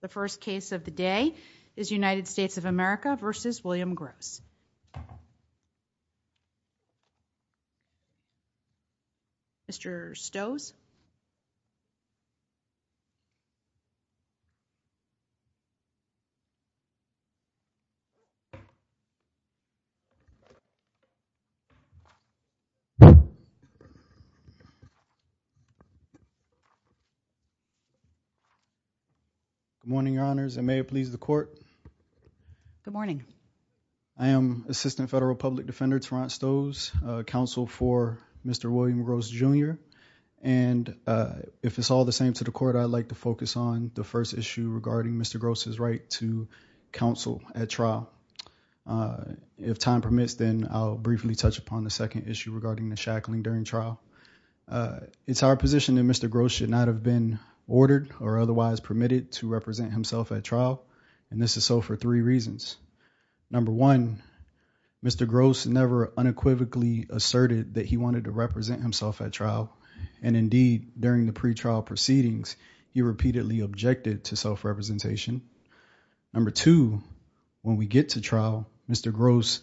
The first case of the day is United States of America v. William Gross. Mr. Stoes. Good morning, Your Honors, and may it please the Court. Good morning. I am Assistant Federal Public Defender Tarrant Stoes, counsel for Mr. William Gross, Jr., and if it's all the same to the Court, I'd like to focus on the first issue regarding Mr. Gross's right to counsel at trial. If time permits, then I'll briefly touch upon the second issue regarding the shackling during trial. It's our position that Mr. Gross should not have been to represent himself at trial, and this is so for three reasons. Number one, Mr. Gross never unequivocally asserted that he wanted to represent himself at trial, and indeed, during the pretrial proceedings, he repeatedly objected to self-representation. Number two, when we get to trial, Mr. Gross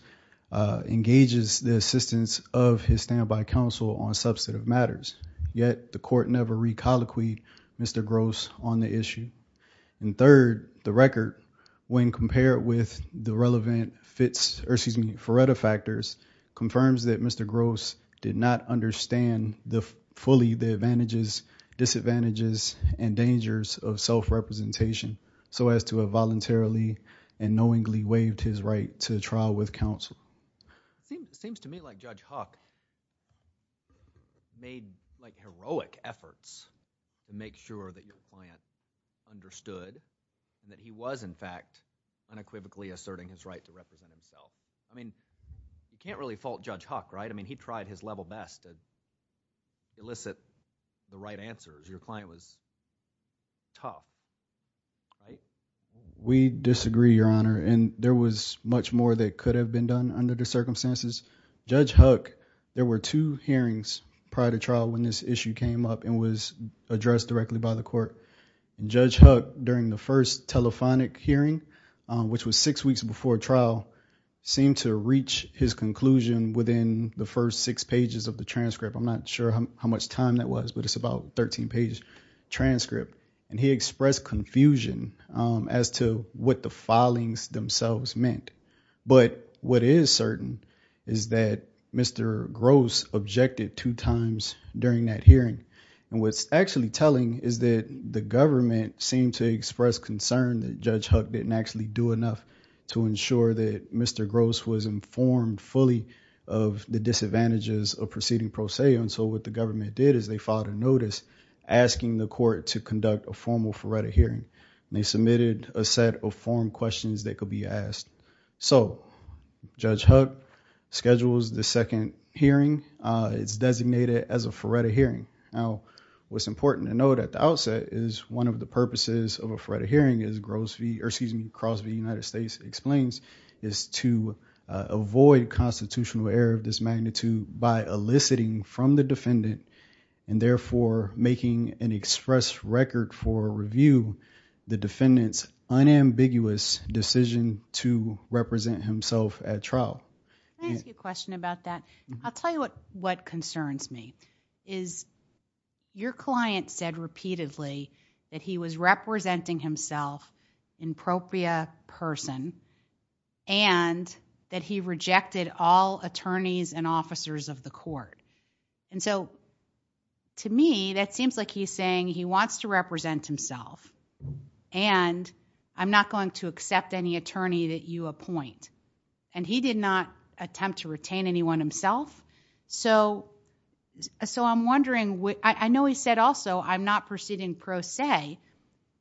engages the assistance of his stand-by counsel on the issue. And third, the record, when compared with the relevant Fretta factors, confirms that Mr. Gross did not understand fully the advantages, disadvantages, and dangers of self-representation so as to have voluntarily and knowingly waived his right to trial with counsel. It seems to me like Judge Huck made heroic efforts to make sure that your client understood that he was, in fact, unequivocally asserting his right to represent himself. I mean, you can't really fault Judge Huck, right? I mean, he tried his level best to elicit the right answers. Your client was tough, right? We disagree, Your Honor, and there was much more that could have been done under the circumstances. Judge Huck, there were two hearings prior to trial when this issue came up and was addressed directly by the court. Judge Huck, during the first telephonic hearing, which was six weeks before trial, seemed to reach his conclusion within the first six pages of the transcript. I'm not sure how much time that was, but it's about a 13-page transcript, and he expressed confusion as to what the filings themselves meant, but what is certain is that Mr. Gross objected two times during that hearing, and what's actually telling is that the government seemed to express concern that Judge Huck didn't actually do enough to ensure that Mr. Gross was informed fully of the disadvantages of proceeding pro se, and so what the government did is they filed a notice asking the court to conduct a formal FARETA hearing, and they submitted a set of form questions that could be asked. So, Judge Huck schedules the second hearing. It's designated as a FARETA hearing. Now, what's important to note at the outset is one of the purposes of a FARETA hearing, as Gross v., or excuse me, Cross v. United States explains, is to avoid constitutional error of this magnitude by eliciting from the defendant, and therefore making an express record for review the defendant's unambiguous decision to represent himself at trial. Can I ask you a question about that? I'll tell you what concerns me, is your client said repeatedly that he was representing himself in propria person, and that he rejected all attorneys and officers of the court, and so to me that seems like he's saying he wants to represent himself, and I'm not going to accept any attorney that you appoint, and he did not attempt to retain anyone So, I'm wondering, I know he said also, I'm not proceeding pro se,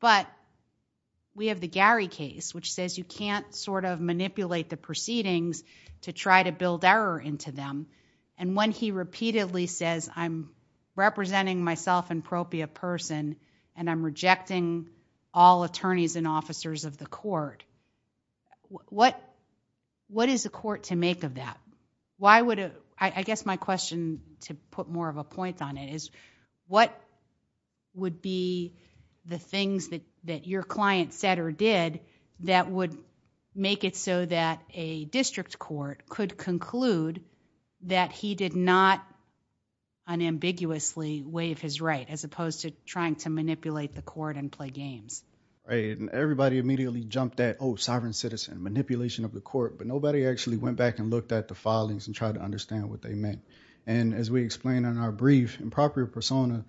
but we have the Gary case, which says you can't sort of manipulate the proceedings to try to build error into them, and when he repeatedly says, I'm representing myself in propria person, and I'm rejecting all attorneys and officers of the court, what is the court to make of that? I guess my question, to put more of a point on it, is what would be the things that your client said or did that would make it so that a district court could conclude that he did not unambiguously waive his right, as opposed to trying to manipulate the court and play games? Everybody immediately jumped at, oh, sovereign citizen, manipulation of the court, but nobody actually went back and looked at the filings and tried to understand what they meant, and as we explained in our brief, improper persona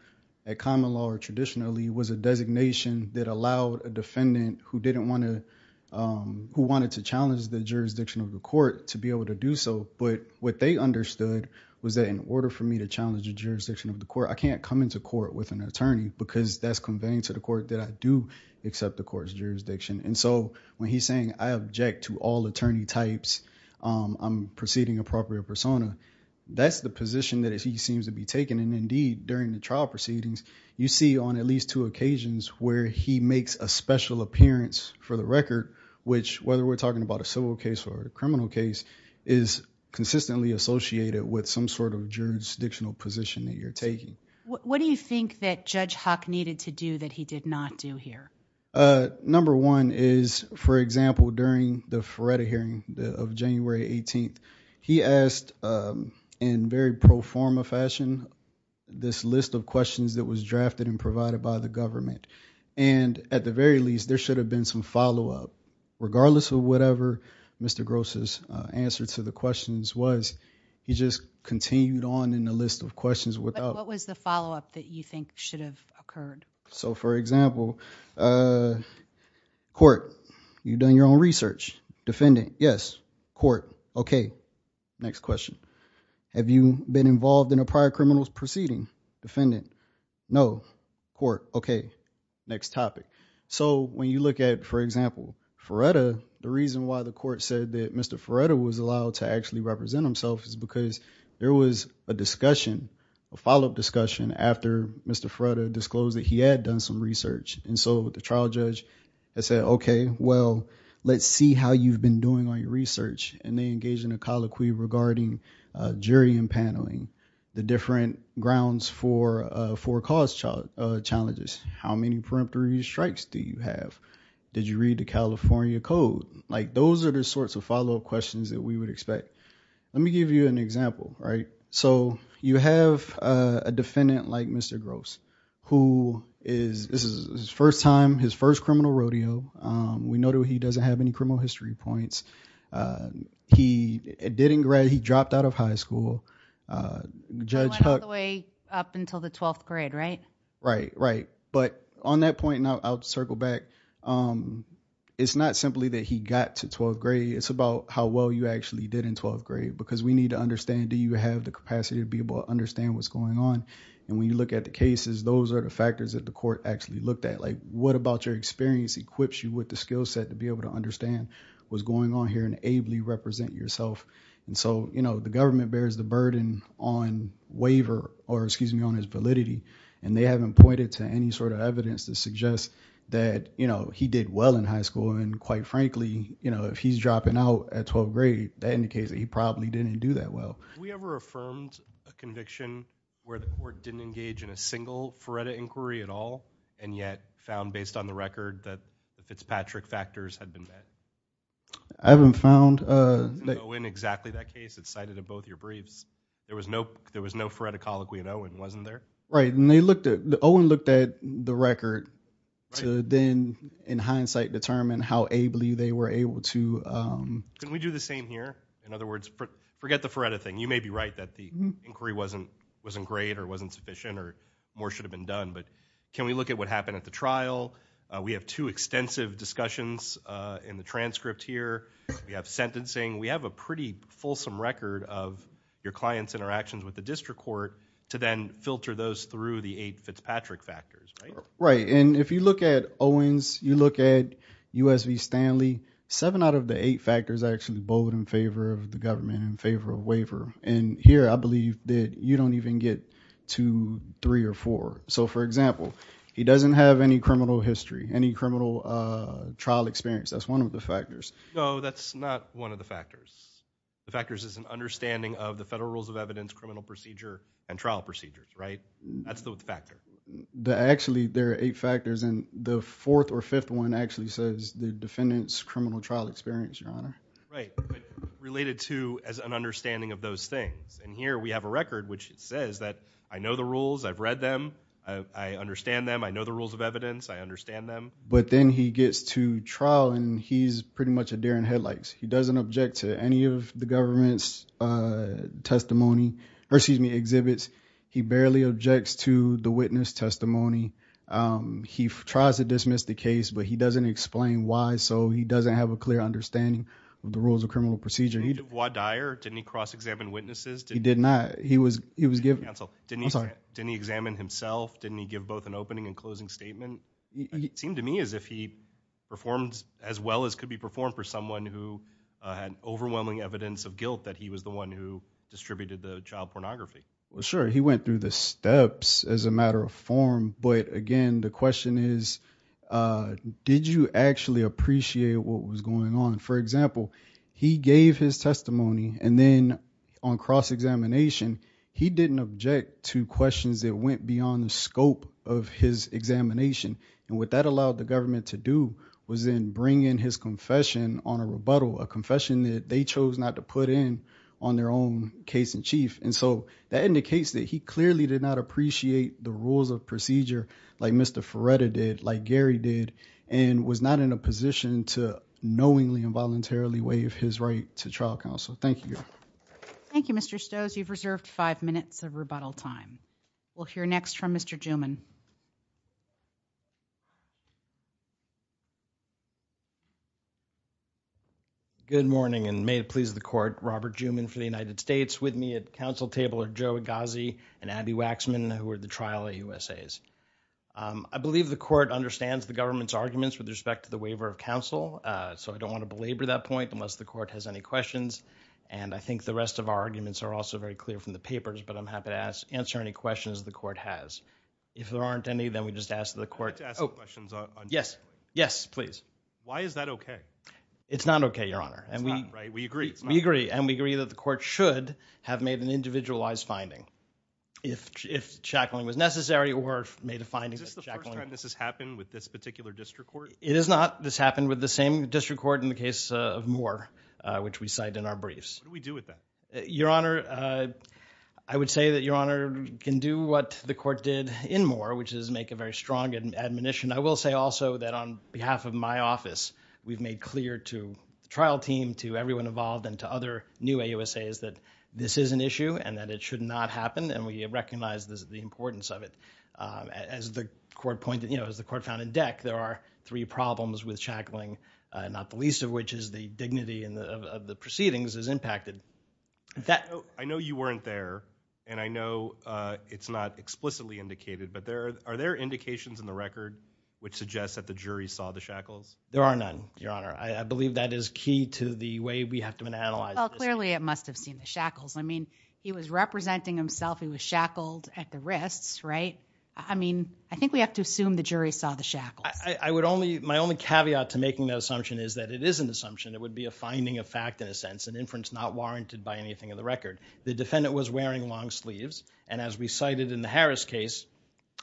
at common law traditionally was a designation that allowed a defendant who didn't want to, who wanted to challenge the jurisdiction of the court to be able to do so, but what they understood was that in order for me to challenge the jurisdiction of the court, I can't come into court with an attorney, because that's conveying to the court that I do accept the court's jurisdiction, and so when he's saying I object to all attorney types, I'm preceding a propria persona, that's the position that he seems to be taking, and indeed, during the trial proceedings, you see on at least two occasions where he makes a special appearance for the record, which, whether we're talking about a civil case or a criminal case, is consistently associated with some sort of jurisdictional position that you're taking. What do you think that Judge Hock needed to do that he did not do here? Number one is, for example, during the Feretta hearing of January 18th, he asked, in very pro forma fashion, this list of questions that was drafted and provided by the government, and at the very least, there should have been some follow-up, regardless of whatever Mr. Gross's answer to the questions was. He just continued on in the list of questions without- What was the follow-up that you think should have occurred? So, for example, court, you've done your own research. Defendant, yes. Court, okay. Next question. Have you been involved in a prior criminal proceeding? Defendant, no. Court, okay. Next topic. So, when you look at, for example, Feretta, the reason why the court said that Mr. Feretta was allowed to actually represent himself is because there was a discussion, a follow-up discussion, after Mr. Feretta disclosed that he had done some research. And so, with the trial judge, they said, okay, well, let's see how you've been doing on your research, and they engaged in a colloquy regarding jury and paneling, the different grounds for cause challenges. How many preemptory strikes do you have? Did you read the California Code? Like, those are the sorts of follow-up questions that we would expect. Let me give you an example, right? So, you have a defendant like Mr. Gross, who is, this is his first time, his first criminal rodeo. We know that he doesn't have any criminal history points. He didn't grad, he dropped out of high school. Judge Huck- Went all the way up until the 12th grade, right? Right, right. But on that point, and I'll circle back, it's not simply that he got to 12th grade, it's about how well you actually did in 12th grade. Because we need to understand, do you have the capacity to be able to understand what's going on? And when you look at the cases, those are the factors that the court actually looked at. Like, what about your experience equips you with the skill set to be able to understand what's going on here and ably represent yourself? And so, you know, the government bears the burden on waiver, or excuse me, on his validity, and they haven't pointed to any sort of evidence to suggest that, you know, he did well in high school. And quite frankly, you know, if he's dropping out at 12th grade, that indicates that he probably didn't do that well. Have we ever affirmed a conviction where the court didn't engage in a single FREDA inquiry at all, and yet found based on the record that the Fitzpatrick factors had been met? I haven't found that. In exactly that case that's cited in both your briefs, there was no, there was no FREDA colloquy in Owen, wasn't there? Right, and they looked at, Owen looked at the record to then, in hindsight, determine how ably they were able to. Can we do the same here? In other words, forget the FREDA thing. You may be right that the inquiry wasn't great or wasn't sufficient or more should have been done. But can we look at what discussions in the transcript here? We have sentencing. We have a pretty fulsome record of your clients' interactions with the district court to then filter those through the eight Fitzpatrick factors, right? Right, and if you look at Owen's, you look at U.S. v. Stanley, seven out of the eight factors actually vote in favor of the government, in favor of waiver. And here I believe that you don't even get to three or four. So, for example, he doesn't have any criminal history, any criminal trial experience. That's one of the factors. No, that's not one of the factors. The factors is an understanding of the federal rules of evidence, criminal procedure, and trial procedures, right? That's the factor. Actually, there are eight factors and the fourth or fifth one actually says the defendant's criminal trial experience, your honor. Right, but related to as an understanding of those things. And here we have a record which says that I know the rules, I've read them, I understand them, I know the evidence, I understand them. But then he gets to trial and he's pretty much a deer in headlights. He doesn't object to any of the government's testimony, or excuse me, exhibits. He barely objects to the witness testimony. He tries to dismiss the case, but he doesn't explain why, so he doesn't have a clear understanding of the rules of criminal procedure. Did he cross-examine witnesses? He did not. He was given. Didn't he examine himself? Didn't he give both an opening and closing statement? It seemed to me as if he performed as well as could be performed for someone who had overwhelming evidence of guilt that he was the one who distributed the child pornography. Well, sure, he went through the steps as a matter of form, but again, the question is, did you actually appreciate what was going on? For example, he gave his testimony and then on cross-examination, he didn't object to questions that went beyond the scope of his examination. And what that allowed the government to do was then bring in his confession on a rebuttal, a confession that they chose not to put in on their own case in chief. And so that indicates that he clearly did not appreciate the rules of procedure like Mr. Ferretta did, like Gary did, and was not in a position to knowingly and voluntarily waive his right to trial counsel. Thank you. Thank you, Mr. Stowes. You've reserved five minutes of rebuttal time. We'll hear next from Mr. Juman. Good morning and may it please the court, Robert Juman for the United States with me at council table or Joe Agassi and Abby Waxman, who are the trial USAs. I believe the court understands the government's arguments with respect to the waiver of counsel. So I don't want to belabor that point unless the court has any questions. And I think the rest of our arguments are also very clear from the papers, but I'm happy to ask, answer any questions the court has. If there aren't any, then we just ask the court. Oh, yes, yes, please. Why is that okay? It's not okay, your honor. And we agree. We agree. And we agree that the court should have made an individualized finding if, if shackling was necessary or made a finding. Is this the first time this has happened with this particular district court? It is not. This happened with the same district court in the case of more, uh, which we cite in our briefs. What do we do with that? Your honor? Uh, I would say that your honor can do what the court did in more, which is make a very strong admonition. I will say also that on behalf of my office, we've made clear to trial team, to everyone involved and to other new USA is that this is an issue and that it should not happen. And we recognize the importance of it. Um, as the court pointed, you know, as the court found in there are three problems with shackling, uh, not the least of which is the dignity and the, of the proceedings is impacted. I know you weren't there and I know, uh, it's not explicitly indicated, but there are, are there indications in the record which suggests that the jury saw the shackles? There are none, your honor. I believe that is key to the way we have to analyze. Well, clearly it must've seen the shackles. I mean, he was representing himself. He was shackled at the wrists, right? I mean, I think we have to assume the jury saw the shackles. I would only, my only caveat to making that assumption is that it is an assumption. It would be a finding of fact in a sense and inference not warranted by anything of the record. The defendant was wearing long sleeves. And as we cited in the Harris case,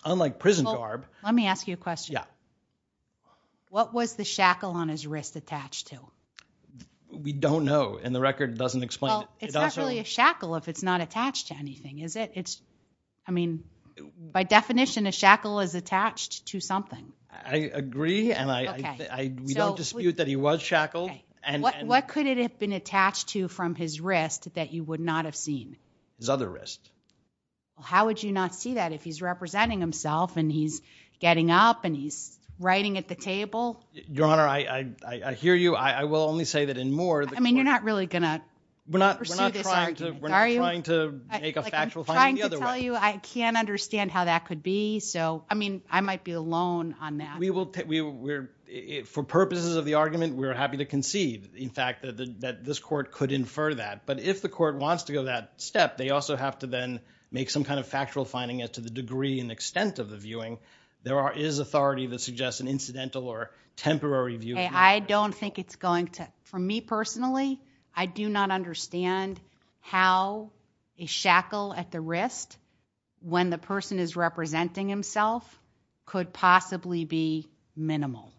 unlike prison garb, let me ask you a question. What was the shackle on his wrist attached to? We don't know. And the record doesn't explain it. It's not really a shackle if it's not attached to anything, is it? It's, I mean, by definition, a shackle is attached to something. I agree. And I, we don't dispute that he was shackled. What could it have been attached to from his wrist that you would not have seen? His other wrist. Well, how would you not see that if he's representing himself and he's getting up and he's writing at the table? Your honor, I, I, I hear you. I will only say that I mean, you're not really going to pursue this argument, are you? I'm trying to tell you, I can't understand how that could be. So, I mean, I might be alone on that. We will, we're, for purposes of the argument, we're happy to concede, in fact, that this court could infer that. But if the court wants to go that step, they also have to then make some kind of factual finding as to the degree and extent of the viewing. There is authority that suggests an I do not understand how a shackle at the wrist, when the person is representing himself, could possibly be minimal.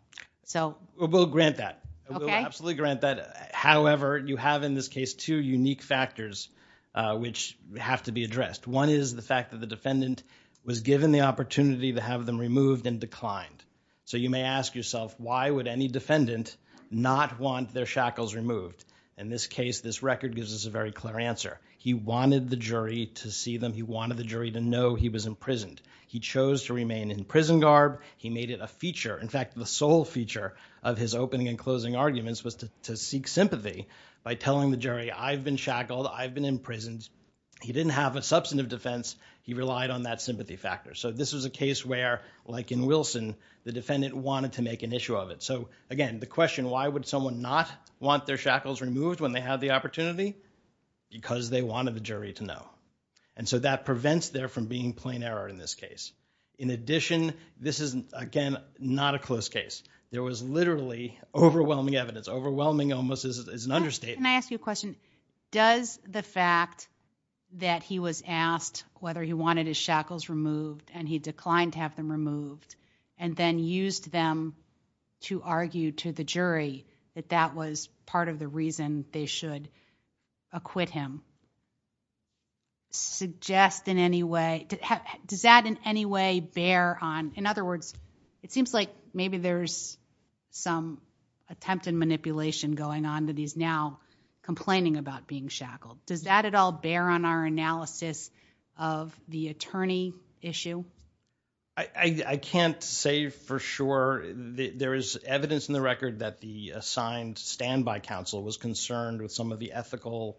So. We'll grant that. Okay. We'll absolutely grant that. However, you have in this case two unique factors which have to be addressed. One is the fact that the defendant was given the opportunity to have them removed and declined. So you may ask yourself, why would any defendant not want their shackles removed? In this case, this record gives us a very clear answer. He wanted the jury to see them. He wanted the jury to know he was imprisoned. He chose to remain in prison garb. He made it a feature. In fact, the sole feature of his opening and closing arguments was to, to seek sympathy by telling the jury, I've been shackled. I've been imprisoned. He didn't have a substantive defense. He relied on that sympathy factor. So this was a case where, like in Wilson, the defendant wanted to make an issue of it. So, again, the question, why would someone not want their shackles removed when they have the opportunity? Because they wanted the jury to know. And so that prevents there from being plain error in this case. In addition, this is, again, not a close case. There was literally overwhelming evidence. Overwhelming almost is an understatement. Can I ask you a question? Does the fact that he was asked whether he wanted his shackles removed and he declined to have them removed and then used them to argue to the jury that that was part of the reason they should acquit him suggest in any way? Does that in any way bear on? In other words, it seems like maybe there's some attempt and manipulation going on that he's now complaining about being shackled. Does that at all bear on our analysis of the attorney issue? I can't say for sure. There is evidence in the record that the assigned standby counsel was concerned with some of the ethical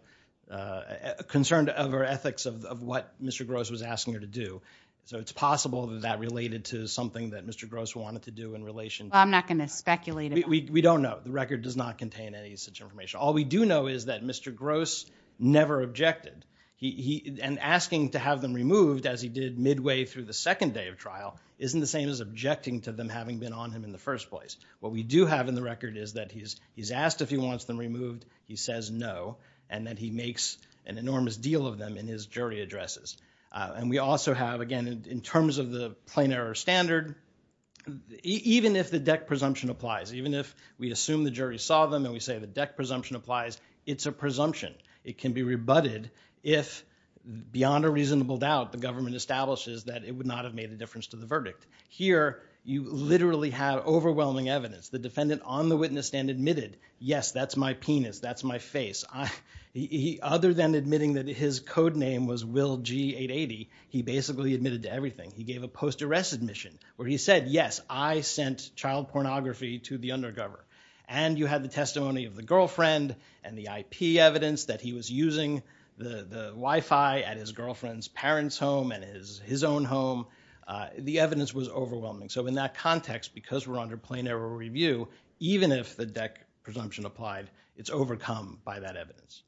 concerned of our ethics of what Mr. Gross was asking her to do. So it's possible that related to something that Mr. Gross wanted to do in relation. I'm not going to speculate. We don't know. The record does not contain any such information. All we do know is that Mr. Gross never objected. And asking to have them removed as he did midway through the second day of trial isn't the same as objecting to them having been on him in the first place. What we do have in the record is that he's asked if he wants them removed. He says no. And that he makes an enormous deal of them in his jury addresses. And we also have, again, in terms of the plain error standard, even if the deck presumption applies, even if we assume the jury saw them and we say the deck presumption applies, it's a presumption. It can be rebutted if, beyond a reasonable doubt, the government establishes that it would not have made a difference to the verdict. Here, you literally have overwhelming evidence. The defendant on the witness stand admitted, yes, that's my penis. That's my face. Other than admitting that his code name was Will G-880, he basically admitted to everything. He gave a post-arrest admission where he said, yes, I sent child pornography to the undercover. And you had the testimony of the girlfriend and the IP evidence that he was using the Wi-Fi at his girlfriend's parents' home and his own home. The evidence was overwhelming. So in that context, because we're under plain error review, even if the deck presumption applied, it's overcome by that evidence.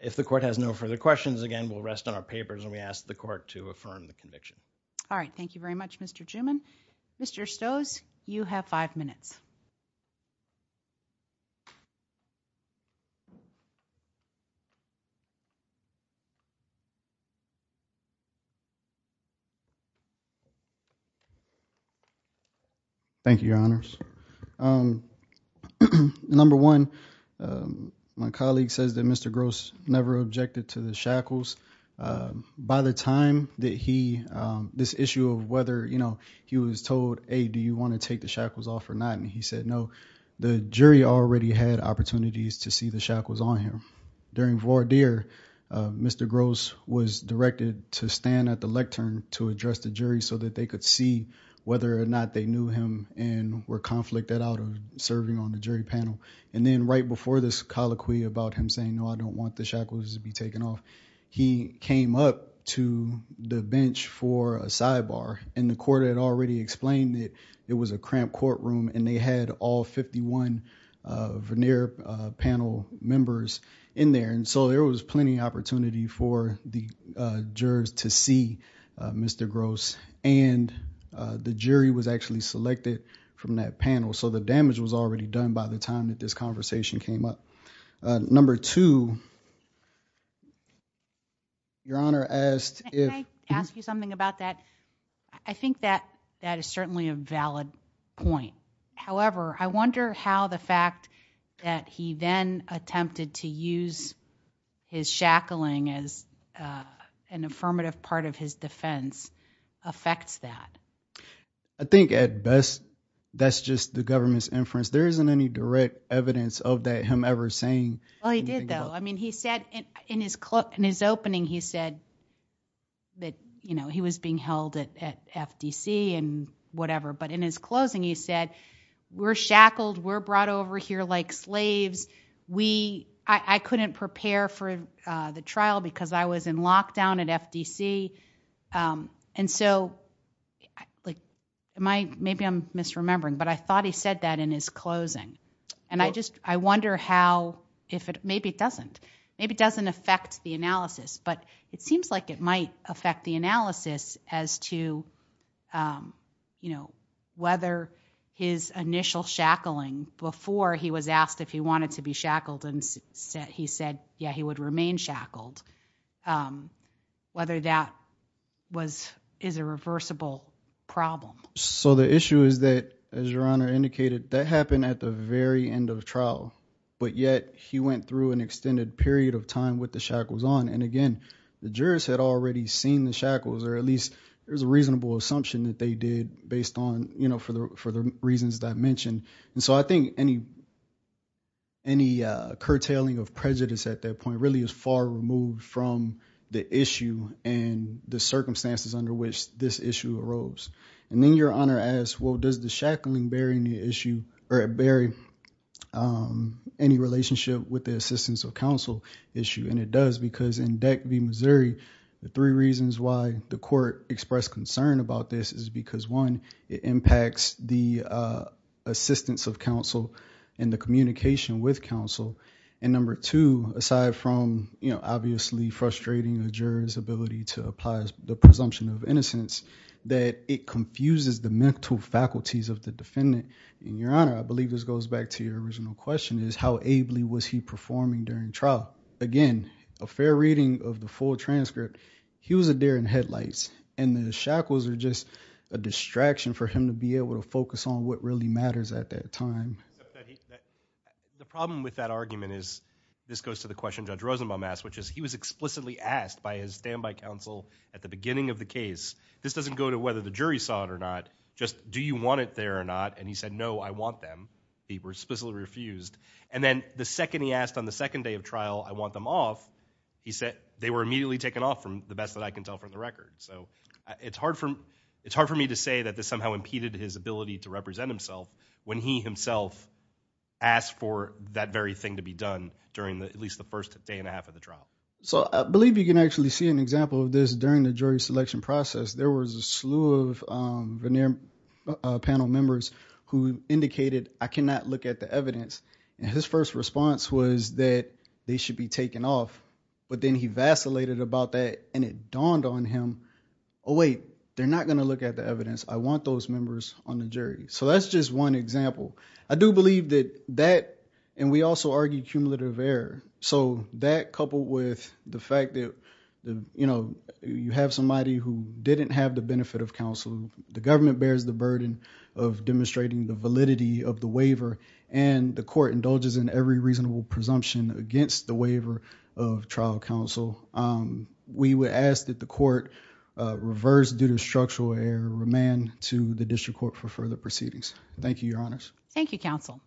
If the court has no further questions, again, we'll rest on our papers and we ask the court to affirm the conviction. All right. Thank you very much, Mr. Juman. Mr. Stoes, you have five minutes. Thank you, Your Honors. Number one, my colleague says that Mr. Gross never objected to the shackles. By the time that this issue of whether he was told, hey, do you want to take the shackles off or not? And he said, no. The jury already had opportunities to see the shackles on him. During voir dire, Mr. Gross was directed to stand at the lectern to address the jury so that they could see whether or not they knew him and were conflicted out of serving on the jury panel. And then right before this colloquy about him saying, no, I don't want the shackles to be taken off, he came up to the bench for a sidebar and the court had already explained that it was a cramped courtroom and they had all 51 venir panel members in there. And so, there was plenty of opportunity for the jurors to see Mr. Gross and the jury was actually selected from that panel. So, the damage was already done by the time that this conversation came up. Number two, your honor asked if I ask you something about that. I think that that is certainly a valid point. However, I wonder how the fact that he then attempted to use his shackling as an affirmative part of his defense affects that. I think at best, that's just the government's inference. There isn't any direct evidence of that him ever saying. Well, he did though. I mean, in his opening, he said that he was being held at FTC and whatever. But in his closing, he said, we're shackled, we're brought over here like slaves. I couldn't prepare for the trial because I was in lockdown at FTC. And so, maybe I'm misremembering, but I thought he said that in his closing. And I wonder how, maybe it doesn't affect the analysis, but it seems like it might affect the analysis as to whether his initial shackling before he was asked if he wanted to be shackled and he said, yeah, he would remain shackled, whether that is a reversible problem. So, the issue is that, as your Honor indicated, that happened at the very end of the trial, but yet he went through an extended period of time with the shackles on. And again, the jurors had already seen the shackles, or at least there's a reasonable assumption that they did based on, you know, for the reasons that I mentioned. And so, I think any curtailing of prejudice at that point really is far removed from the issue and the circumstances under which this issue arose. And then your Honor asked, well, does the shackling bury any relationship with the assistance of counsel issue? And it does, because in Deck v. Missouri, the three reasons why the court expressed concern about this is because, one, it impacts the assistance of counsel and the communication with counsel. And number two, aside from, you know, that it confuses the mental faculties of the defendant, and your Honor, I believe this goes back to your original question, is how ably was he performing during trial? Again, a fair reading of the full transcript, he was a deer in headlights, and the shackles are just a distraction for him to be able to focus on what really matters at that time. The problem with that argument is, this goes to the question Judge Rosenbaum asked, which is, he was explicitly asked by his standby counsel at the beginning of the case. This doesn't go to whether the jury saw it or not, just do you want it there or not? And he said, no, I want them. He explicitly refused. And then the second he asked on the second day of trial, I want them off, he said, they were immediately taken off from the best that I can tell from the record. So, it's hard for me to say that this somehow impeded his ability to represent himself when he himself asked for that very thing to be done during at least the first day and a half of the trial. So, I believe you can actually see an example of this during the jury selection process. There was a slew of panel members who indicated, I cannot look at the evidence. And his first response was that they should be taken off. But then he vacillated about that, and it dawned on him, oh, wait, they're not going to look at the evidence. I want those members on the jury. So, that's just one example. I do believe that and we also argue cumulative error. So, that coupled with the fact that you have somebody who didn't have the benefit of counsel, the government bears the burden of demonstrating the validity of the waiver, and the court indulges in every reasonable presumption against the waiver of trial counsel. We would ask that the court reverse due to structural error, remand to the district court for further proceedings. Thank you, Your Honors. Thank you, counsel.